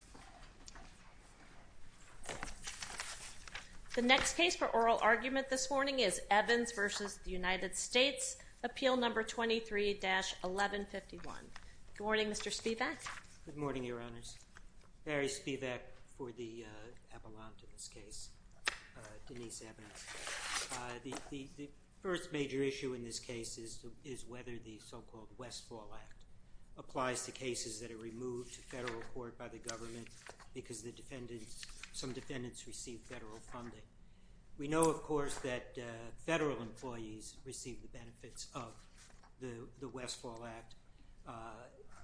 23-1151. Good morning, Mr. Spivak. Good morning, Your Honors. Barry Spivak for the Avalante in this case, Denise Evans. The first major issue in this case is whether the so-called Westfall Act applies to cases that are removed to federal court by the government or by the government because some defendants receive federal funding. We know, of course, that federal employees receive the benefits of the Westfall Act,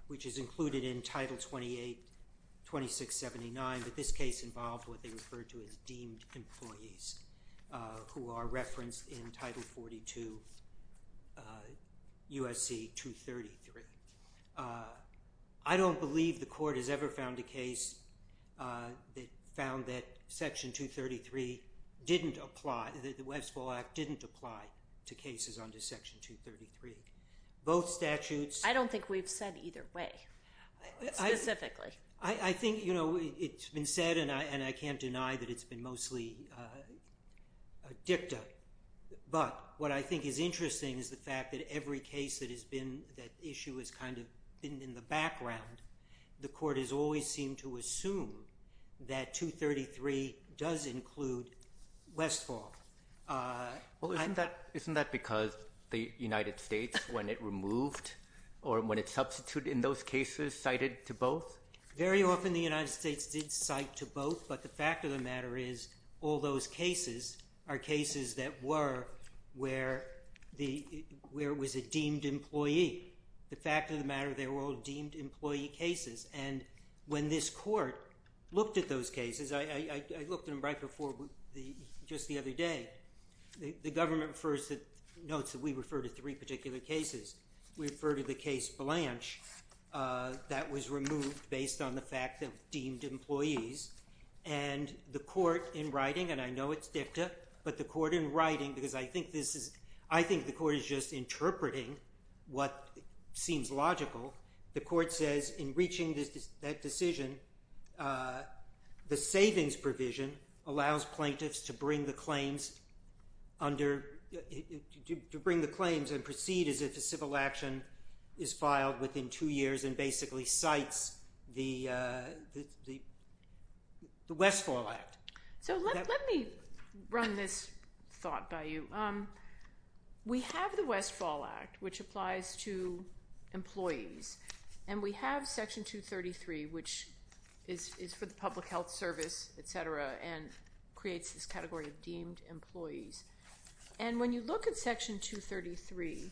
which is included in Title 28-2679, but this case involved what they referred to as deemed employees who are referenced in Title 42 U.S.C. 233. I don't believe the Court has ever found a case that found that Section 233 didn't apply, that the Westfall Act didn't apply to cases under Section 233. Both statutes... I don't think we've said either way, specifically. I think, you know, it's been said and I can't deny that it's been mostly dicta, but what I think is interesting is the fact that every case that issue has kind of been in the background, the Court has always seemed to assume that 233 does include Westfall. Well, isn't that because the United States, when it removed or when it substituted in those cases, cited to both? Very often the United States did cite to both, but the fact of the matter is all those cases are cases that were where it was a deemed employee. The fact of the matter, they were all deemed employee cases, and when this Court looked at those cases, I looked at them right before just the other day, the government notes that we refer to three particular cases. We refer to the case Blanche that was removed based on the fact of deemed employees, and the Court in writing, and I know it's dicta, but the Court in writing, because I think this is... I think the Court is just interpreting what seems logical. The Court says in reaching that decision, the savings provision allows plaintiffs to bring the claims under... to counsel action is filed within two years and basically cites the Westfall Act. So let me run this thought by you. We have the Westfall Act, which applies to employees, and we have Section 233, which is for the public health service, et cetera, and creates this category of deemed employees, and when you look at Section 233,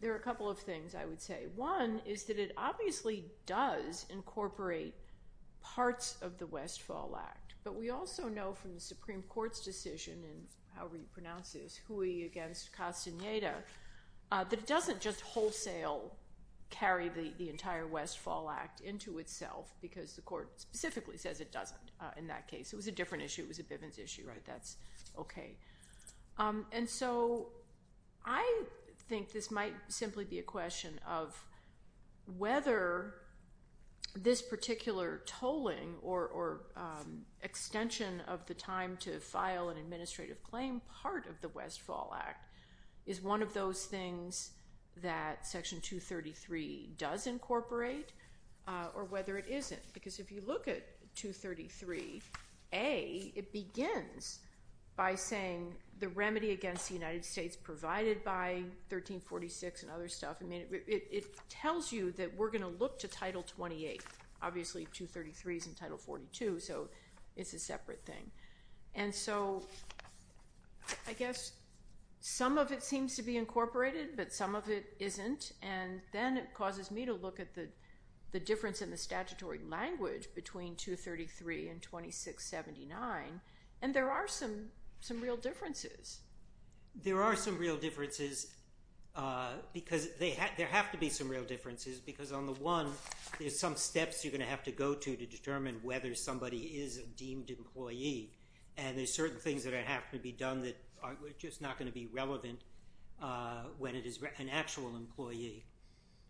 there are a couple of things I would say. One is that it obviously does incorporate parts of the Westfall Act, but we also know from the Supreme Court's decision, and however you pronounce this, Huey against Castaneda, that it doesn't just wholesale carry the entire Westfall Act into itself because the Court specifically says it doesn't in that case. It was a different person's issue, right? That's okay. And so I think this might simply be a question of whether this particular tolling or extension of the time to file an administrative claim part of the Westfall Act is one of those things that Section 233 does incorporate or whether it isn't, because if you look at 233A, it begins by saying the remedy against the United States provided by 1346 and other stuff. I mean, it tells you that we're going to look to Title 28. Obviously, 233 is in Title 42, so it's a separate thing. And so I guess some of it seems to be incorporated, but some of it isn't, and then it causes me to look at the difference in the statutory language between 233 and 2679, and there are some real differences. There are some real differences because there have to be some real differences because on the one, there's some steps you're going to have to go to to determine whether somebody is a deemed employee, and there's certain things that are going to have to be done that are just not going to be relevant when it is an actual employee.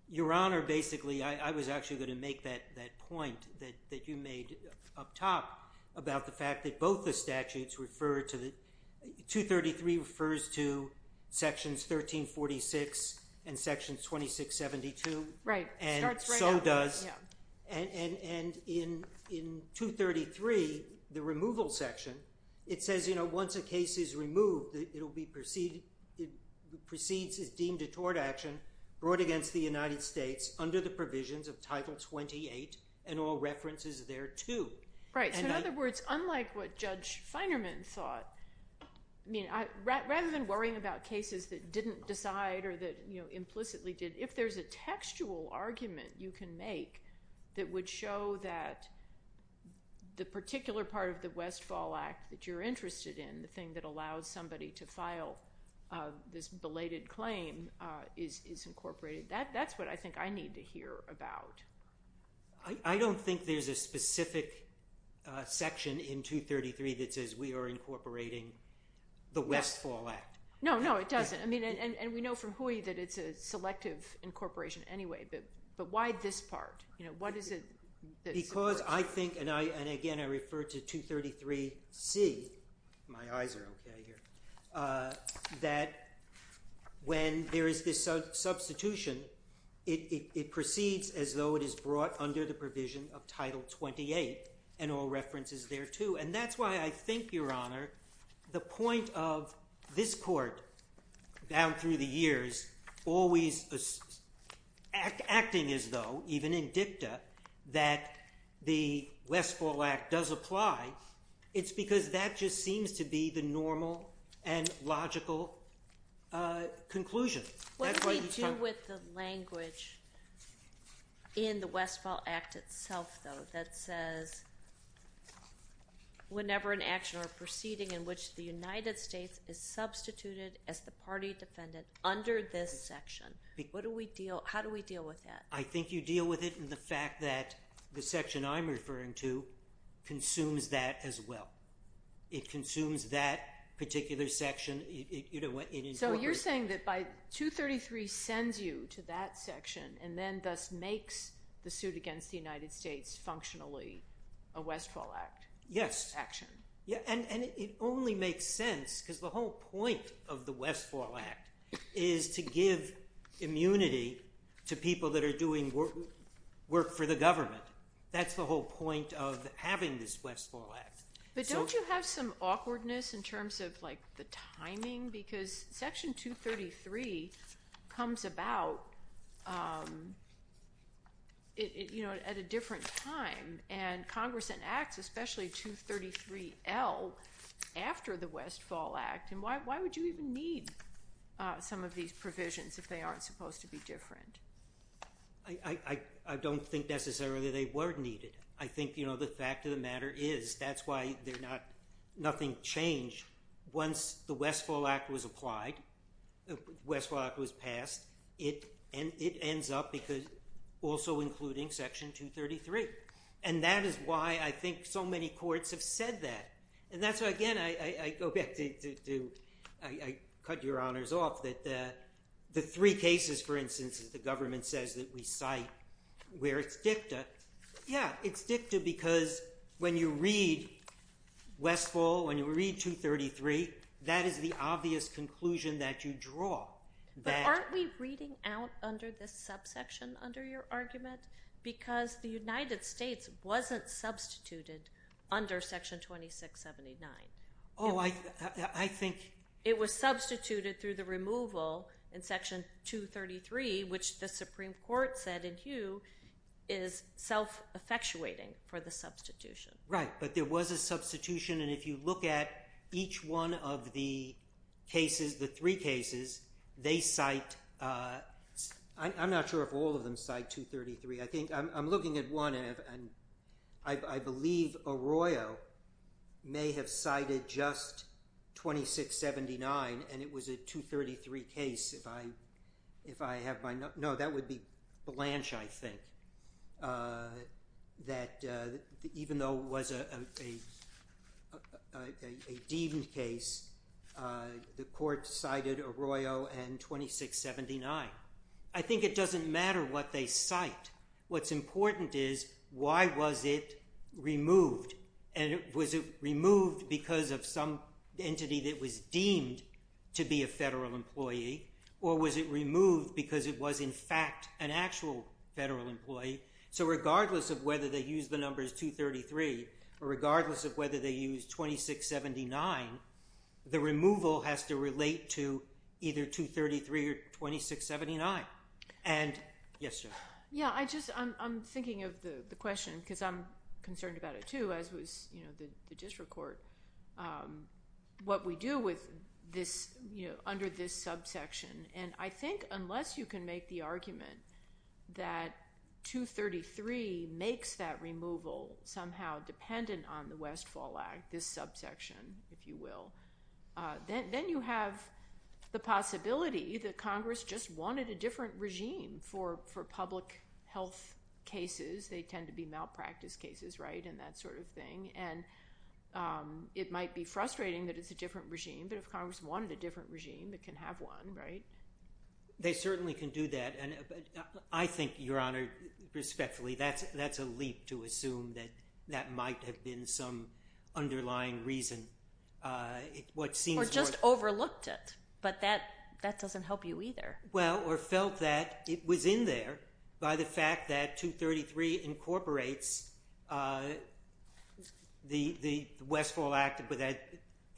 Your Honor, basically, I was actually going to make that point that you made up top about the fact that both the statutes refer to the, 233 refers to Sections 1346 and Section 2672. Right. And so does, and in 233, the removal section, it says, you know, once a case is removed, it proceeds as deemed a tort action brought against the United States under the provisions of Title 28 and all references thereto. Right. So in other words, unlike what Judge Feinerman thought, I mean, rather than worrying about cases that didn't decide or that, you know, implicitly did, if there's a textual argument you can make that would show that the particular part of the Westfall Act that you're interested in, the thing that allows somebody to file this belated claim is incorporated. That's what I think I need to hear about. I don't think there's a specific section in 233 that says we are incorporating the Westfall Act. No, no, it doesn't. I mean, and we know from Hui that it's a selective incorporation anyway, but why this part? You know, what is it that's important? Because I think, and again, I refer to 233C, my eyes are okay here, that when there is this substitution, it proceeds as though it is brought under the provision of Title 28 and all references thereto. And that's why I think, Your Honor, the point of this Court, down through the years, always acting as though, even in dicta, that the Westfall Act does apply, it's because that just seems to be the normal and logical conclusion. What do we do with the language in the Westfall Act itself, though, that says whenever an action or proceeding in which the United States is substituted as the party defendant under this section, how do we deal with that? I think you deal with it in the fact that the section I'm referring to consumes that as well. It consumes that particular section. So you're saying that 233 sends you to that functionally a Westfall Act action. Yes. And it only makes sense, because the whole point of the Westfall Act is to give immunity to people that are doing work for the government. That's the whole point of having this Westfall Act. But don't you have some awkwardness in timing? Because Section 233 comes about at a different time. And Congress enacts, especially 233L, after the Westfall Act. And why would you even need some of these provisions if they aren't supposed to be different? I don't think necessarily they were needed. I think the fact of the matter is that's why nothing changed. Once the Westfall Act was applied, the Westfall Act was passed, it ends up also including Section 233. And that is why I think so many courts have said that. And that's why, again, I go back to, I cut your honors off, that the three cases, for instance, that the government says that we cite where it's addictive, because when you read Westfall, when you read 233, that is the obvious conclusion that you draw. But aren't we reading out under this subsection under your argument? Because the United States wasn't substituted under Section 2679. Oh, I think... It was substituted through the removal in Section 233, which the Supreme Court said in Hugh is self-effectuating for the substitution. Right. But there was a substitution. And if you look at each one of the cases, the three cases, they cite... I'm not sure if all of them cite 233. I'm looking at one, and I believe Arroyo may have cited just 2679, and it was a 233 case. If I have my... No, that would be Blanche, I think, that even though it was a deemed case, the court cited Arroyo and 2679. I think it doesn't matter what they cite. What's important is, why was it removed? And was it removed because of some entity that was deemed to be a federal employee, or was it removed because it was in fact an actual federal employee? So regardless of whether they use the numbers 233, or regardless of whether they use 2679, the removal has to relate to either 233 or 2679. And... Yes, Jennifer. Yeah, I'm thinking of the question, because I'm concerned about it too, as was the district court. What we do under this subsection, and I think unless you can make the argument that 233 makes that case, if you will, then you have the possibility that Congress just wanted a different regime for public health cases. They tend to be malpractice cases, right, and that sort of thing. And it might be frustrating that it's a different regime, but if Congress wanted a different regime, it can have one, right? They certainly can do that, and I think, Your Honor, what seems more... Or just overlooked it, but that doesn't help you either. Well, or felt that it was in there by the fact that 233 incorporates the Westfall Act, but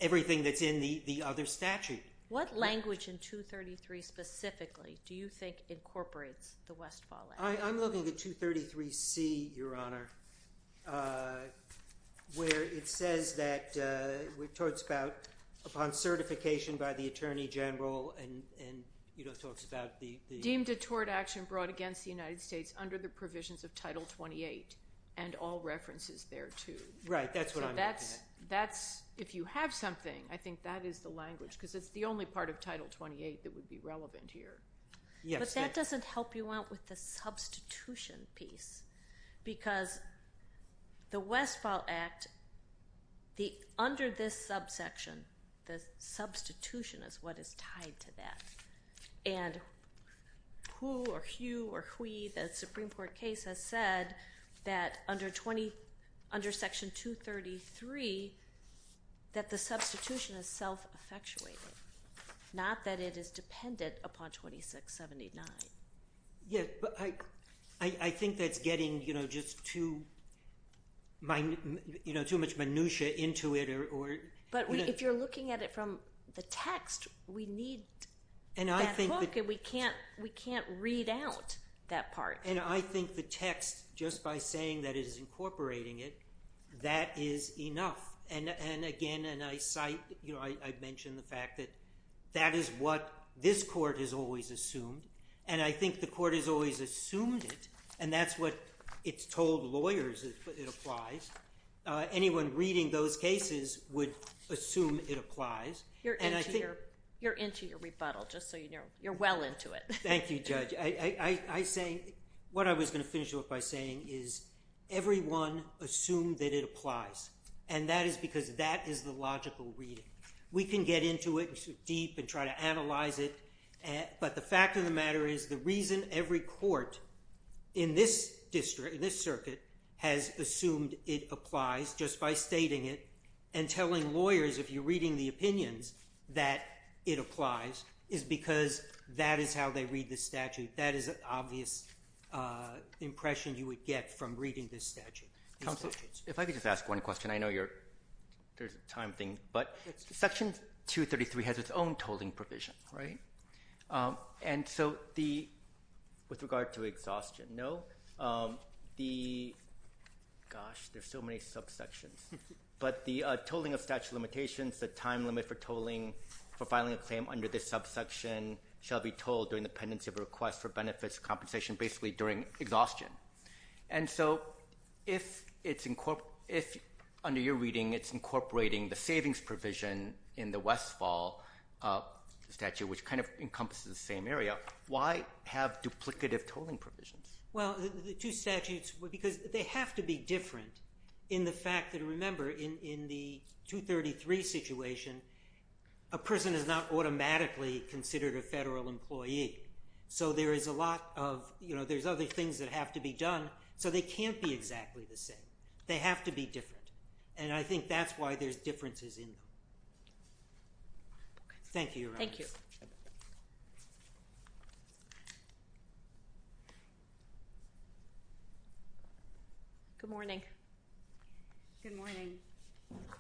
everything that's in the other statute. What language in 233 specifically do you think incorporates the Westfall Act? I'm looking at 233C, Your Honor, where it says that... It talks about upon certification by the Attorney General and talks about the... Deemed a tort action brought against the United States under the provisions of Title 28 and all references thereto. Right, that's what I'm looking at. If you have something, I think that is the language, because it's the only part of Title 28 that would be relevant here. But that doesn't help you out with the substitution piece, because the Westfall Act, under this subsection, the substitution is what is tied to that. And who or hue or hue, the Supreme Court case has said that under Section 233, that the substitution is self-effectuated, not that it is dependent upon 2679. Yeah, but I think that's getting just too much minutiae into it or... But if you're looking at it from the text, we need that book and we can't read out that part. And I think the text, just by saying that it is incorporating it, that is enough. And again, and I cite, I mentioned the fact that that is what this Court has always assumed. And I think the Court has always assumed it. And that's what it's told lawyers, it applies. Anyone reading those cases would assume it applies. And I think... You're into your rebuttal, just so you know. You're well into it. Thank you, Judge. I say, what I was going to finish off by saying is, everyone assumed that it applies. And that is because that is the logical reading. We can get into it deep and try to analyze it. But the fact of the matter is, the reason every court in this circuit has assumed it applies, just by stating it, and telling lawyers, if you're reading the opinions, that it applies, is because that is how they read the statute. That is an obvious impression you would get from reading this statute. Counsel, if I could just ask one question. I know there's a time thing, but Section 233 has its own tolling provision, right? And so, with regard to exhaustion, no. Gosh, there's so many subsections. But the tolling of statute of limitations, the time limit for filing a claim under this subsection shall be tolled during the pendency of a request for benefits compensation, basically during exhaustion. And so, if under your reading, it's incorporating the savings provision in the Westfall statute, which kind of encompasses the same area, why have duplicative tolling provisions? Well, the two statutes, because they have to be different in the fact that, remember, in the 233 situation, a person is not automatically considered a federal employee. So there's other things that have to be done, so they can't be exactly the same. They have to be different. And I think that's why there's Good morning. Good morning.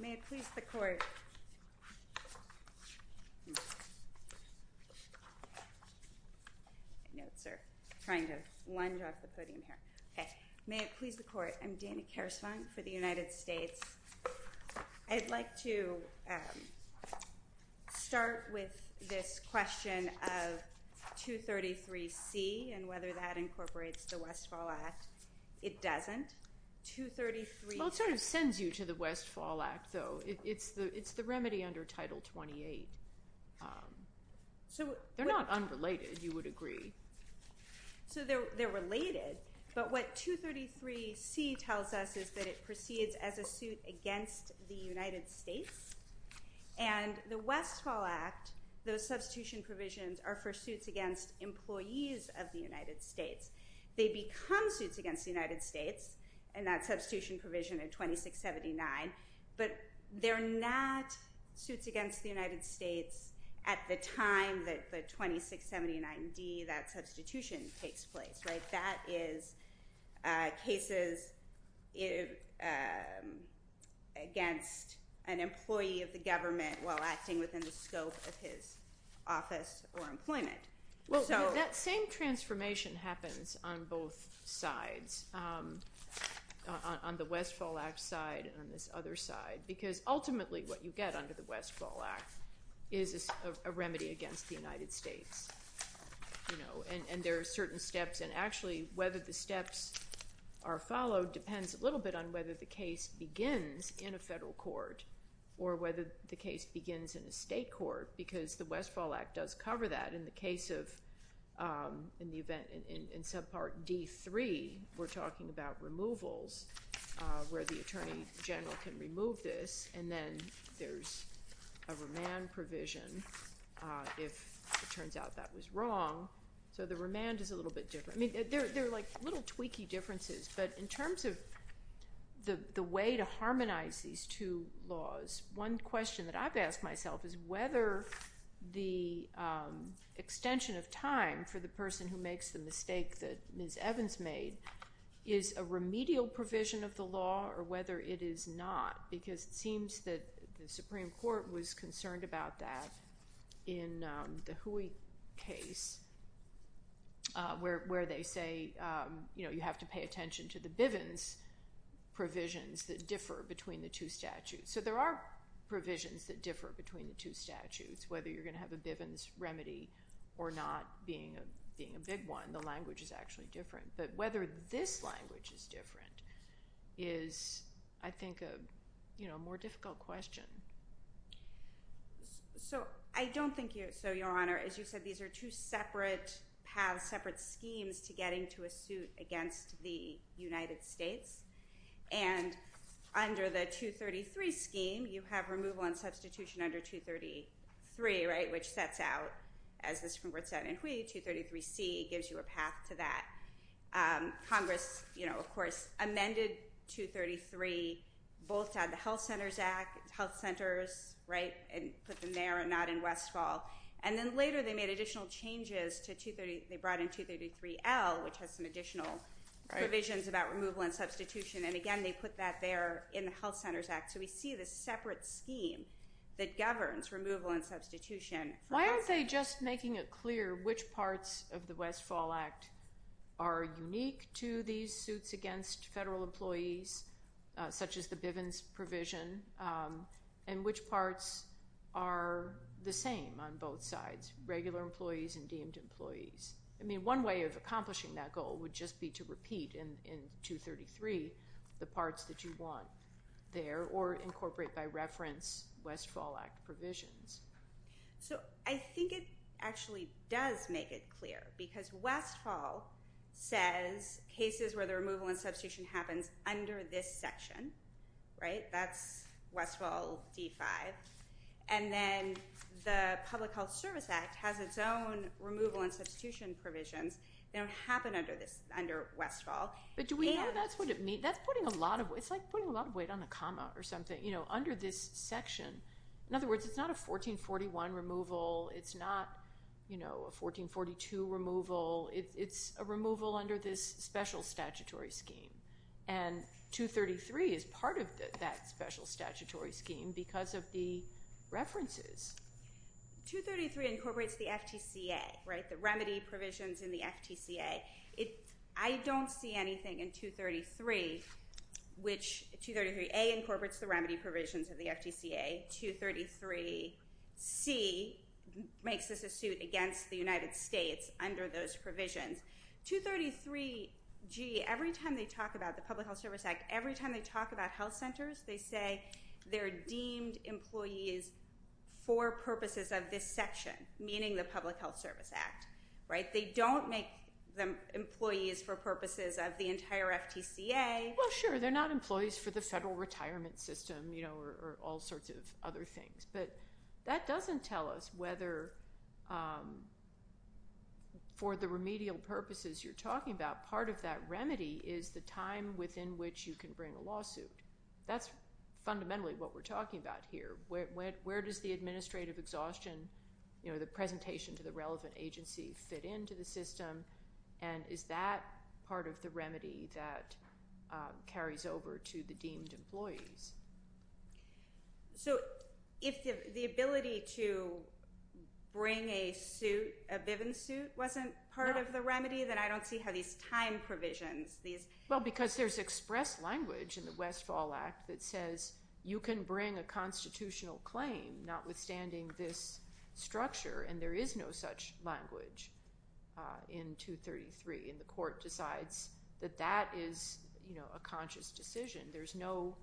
May it please the court. Notes are trying to lunge off the podium here. May it please the court. I'm Dana Kersvang for the United States. I'd like to start with this question of 233C and whether that incorporates the Westfall Act. It doesn't. Well, it sort of sends you to the Westfall Act, though. It's the remedy under Title 28. They're not unrelated, you would agree. So they're related, but what 233C tells us is that it proceeds as a suit against the United States. And the Westfall Act, those substitution provisions, are for suits against employees of the United States. They become suits against the United States in that substitution provision in 2679, but they're not suits against the against an employee of the government while acting within the scope of his office or employment. Well, that same transformation happens on both sides, on the Westfall Act side and on this other side, because ultimately what you get under the Westfall Act is a remedy against the United States. And there are certain steps, and actually whether the steps are followed depends a little bit on whether the case begins in a federal court or whether the case begins in a state court, because the Westfall Act does cover that. In the event in subpart D3, we're talking about removals where the attorney general can remove this, and then there's a remand provision if it turns out that was wrong. So the remand is a little bit different. I mean, they're like little tweaky differences, but in terms of the way to harmonize these two laws, one question that I've asked myself is whether the extension of time for the person who makes the mistake that Ms. Evans made is a remedial provision of the law or whether it is not, because it seems that the Supreme Court was concerned about that in the Hui case where they say, you know, you have to pay attention to the Bivens provisions that differ between the two statutes. So there are provisions that differ between the two statutes, whether you're going to have a Bivens remedy or not being a big one. The language is actually different. But whether this language is different is, I think, a more difficult question. So I don't think so, Your Honor. As you said, these are two separate paths, separate schemes to getting to a suit against the United States. And under the 233 scheme, you have removal and substitution under 233, right, which sets out, as the Supreme Court said in Hui, 233C gives you a path to that. Congress, you know, of course, amended 233 both at the Health Centers Act, health centers, right, and put them there and not in Westfall. And then later they made additional changes to 233, they brought in 233L, which has some additional provisions about removal and substitution. And again, they put that there in the Health Centers Act. So we see this separate scheme that governs removal and substitution. Why aren't they just making it clear which parts of the Westfall Act are unique to these suits against federal employees, such as the Bivens provision, and which parts are the same on both sides, regular employees and deemed employees? I mean, one way of accomplishing that goal would just be to repeat in 233 the parts that you want there or incorporate by So I think it actually does make it clear, because Westfall says cases where the removal and substitution happens under this section, right, that's Westfall D5. And then the Public Health Service Act has its own removal and substitution provisions. They don't happen under this, under Westfall. But do we know that's what it means? That's putting a lot of, it's like putting a lot of weight on a comma or something, you know, under this section. In other words, it's not a 1441 removal. It's not, you know, a 1442 removal. It's a removal under this special statutory scheme. And 233 is part of that special statutory scheme because of the references. 233 incorporates the FTCA, right, the remedy provisions in the FTCA. I don't see anything in 233 which, 233A incorporates the remedy provisions of the FTCA. 233C makes this a suit against the United States under those provisions. 233G, every time they talk about the Public Health Service Act, every time they talk about health centers, they say they're deemed employees for purposes of this section, meaning the Public Health Service Act, right? They don't make them employees for purposes of the entire FTCA. Well, sure. They're not employees for the federal retirement system, you know, or all sorts of other things. But that doesn't tell us whether for the remedial purposes you're talking about, part of that remedy is the time within which you can bring a lawsuit. That's fundamentally what we're talking about here. Where does the administrative exhaustion, you know, the presentation to the relevant agency fit into the system? And is that part of the remedy that carries over to the deemed employees? So if the ability to bring a suit, a Bivens suit, wasn't part of the remedy, then I don't see how these time provisions, these... Well, because there's express language in the Westfall Act that says you can bring a constitutional claim notwithstanding this structure, and there is no such language in 233. And the court decides that that is, you know, a conscious decision. There's no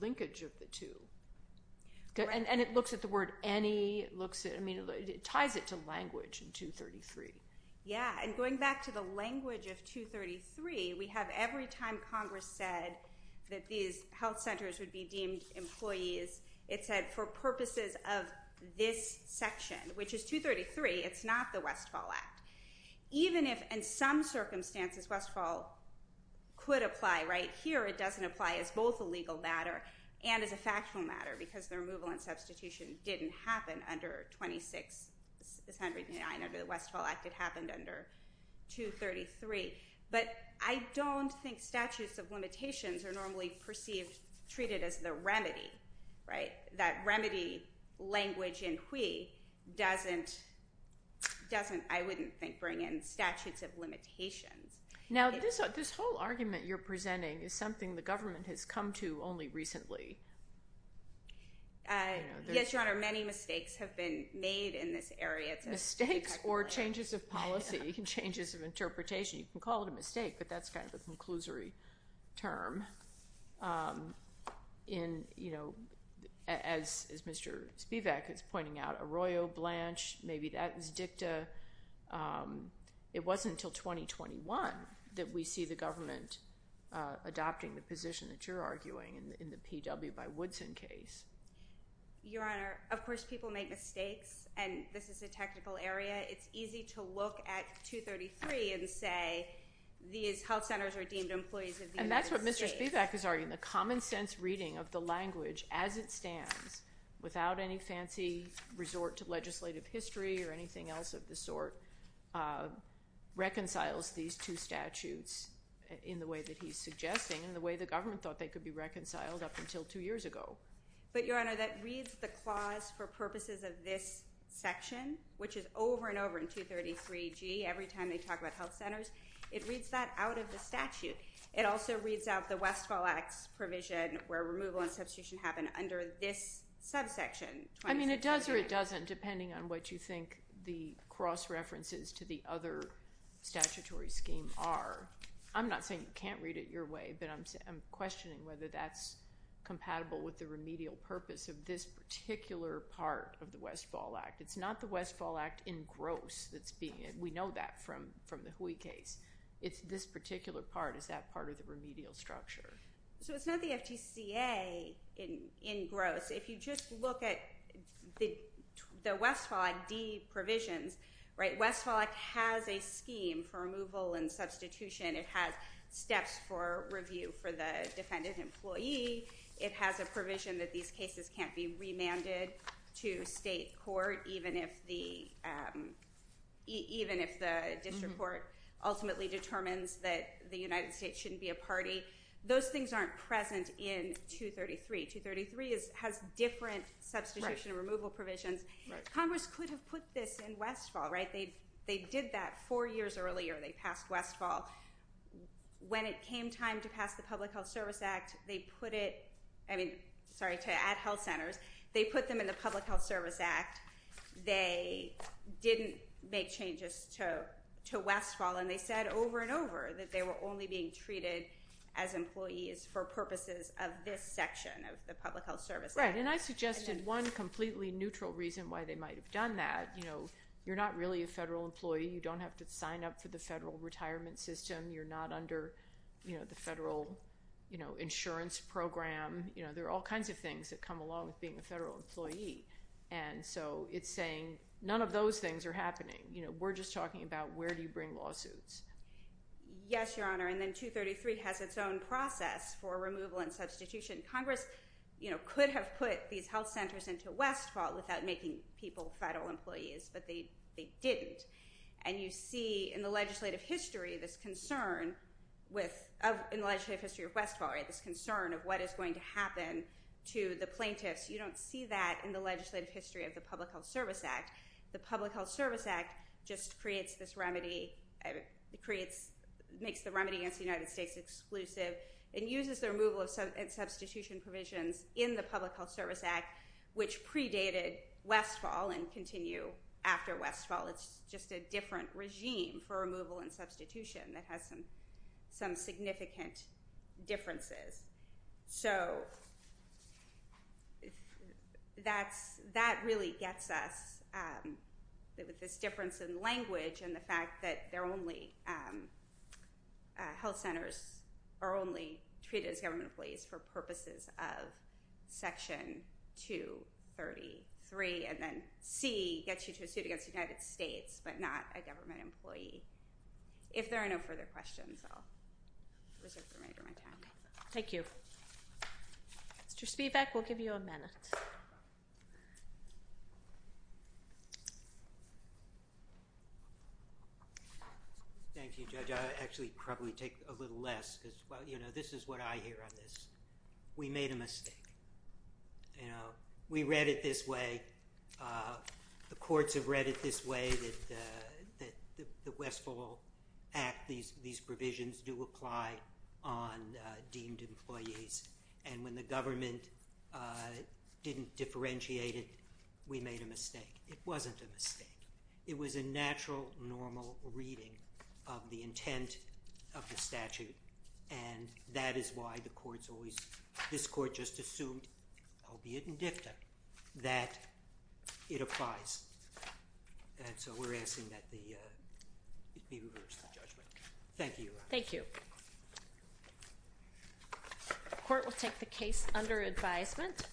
linkage of the two. And it looks at the word any, it ties it to language in 233. Yeah, and going back to the language of 233, we have every time Congress said that these health centers would be deemed employees, it said for purposes of this section, which is 233, it's not the Westfall Act. Even if, in some circumstances, Westfall could apply right here, it doesn't apply as both a legal matter and as a factual matter, because the removal and substitution didn't happen under 26, 109, under the Westfall Act. It happened under 233. But I don't think statutes of limitations are normally perceived, treated as the remedy, right? That remedy language in whee doesn't, I wouldn't think, bring in statutes of limitations. Now, this whole argument you're presenting is something the government has come to only recently. Yes, Your Honor, many mistakes have been made in this area. Mistakes or changes of policy, changes of interpretation. You can call it a mistake, but that's kind of a conclusory term. In, you know, as Mr. Spivak is pointing out, Arroyo Blanche, maybe that was dicta. It wasn't until 2021 that we see the government adopting the position that you're arguing in the PW by Woodson case. Your Honor, of course people make mistakes, and this is a technical area. It's easy to look at 233 and say these health centers are deemed employees of the United States. And that's what Mr. Spivak is arguing. The common sense reading of the language as it stands, without any fancy resort to legislative history or anything else of the sort, reconciles these two statutes in the way that he's suggesting and the way the government thought they could be reconciled up until two years ago. But, Your Honor, that reads the clause for purposes of this section, which is over and over in 233G every time they talk about health centers. It reads that out of the statute. It also reads out the Westfall Act's provision where removal and substitution happen under this subsection. I mean, it does or it doesn't, depending on what you think the cross-references to the other statutory scheme are. I'm not saying you can't read it your way, but I'm questioning whether that's compatible with the remedial purpose of this particular part of the Westfall Act. It's not the Westfall Act in gross that's being, we know that from the Hui case. It's this particular part. Is that part of the remedial structure? So it's not the FTCA in gross. If you just look at the Westfall Act D provisions, Westfall Act has a scheme for removal and substitution. It has steps for review for the defendant employee. It has a provision that these cases can't be remanded to state court, even if the district court ultimately determines that the United States shouldn't be a party. Those things aren't present in 233. 233 has different substitution and removal provisions. Congress could have put this in Westfall, right? They did that four years earlier. They passed Westfall. When it came time to pass the Public Health Service Act, they put it, I mean, sorry to add health centers, they put them in the Public Health Service Act. They didn't make changes to Westfall, and they said over and over that they were only being treated as employees for purposes of this section of the Public Health Service Act. Right. And I suggested one completely neutral reason why they might have done that. You're not really a federal employee. You don't have to sign up for the federal retirement system. You're not under the federal insurance program. There are all kinds of things that come along with being a federal employee. And so it's saying none of those things are happening. We're just talking about where do you bring lawsuits. Yes, Your Honor. And then 233 has its own process for removal and substitution. Congress could have put these health centers into Westfall without making people federal employees, but they didn't. And you see in the legislative history this concern with, in the legislative history of Westfall, right, this concern of what is going to happen to the plaintiffs. You don't see that in the legislative history of the Public Health Service Act. The Public Health Service Act just creates this remedy, makes the remedy against the United States exclusive, and uses the removal and substitution provisions in the Public Health Service Act, which predated Westfall and continue after Westfall. It's just a different regime for removal and substitution that has some significant differences. So that really gets us with this difference in language and the fact that they're only health centers are only treated as government employees for purposes of Section 233. And then C gets you to a suit against the United States, but not a government employee. If there are no further questions, I'll reserve the remainder of my time. Thank you. Mr. Spivak, we'll give you a minute. Thank you, Judge. I'll actually probably take a little less because, well, you know, this is what I hear on this. We made a mistake. You know, we read it this way. The courts have read it this way, that the Westfall Act, these provisions do apply on deemed employees. And when the government didn't differentiate it, we made a mistake. It wasn't a mistake. It was a natural, normal reading of the intent of the statute. And that is why the courts always, this Court just assumed, albeit in DFTA, that it applies. And so we're asking that it be reversed in judgment. Thank you. Thank you. The Court will take the case under advisement.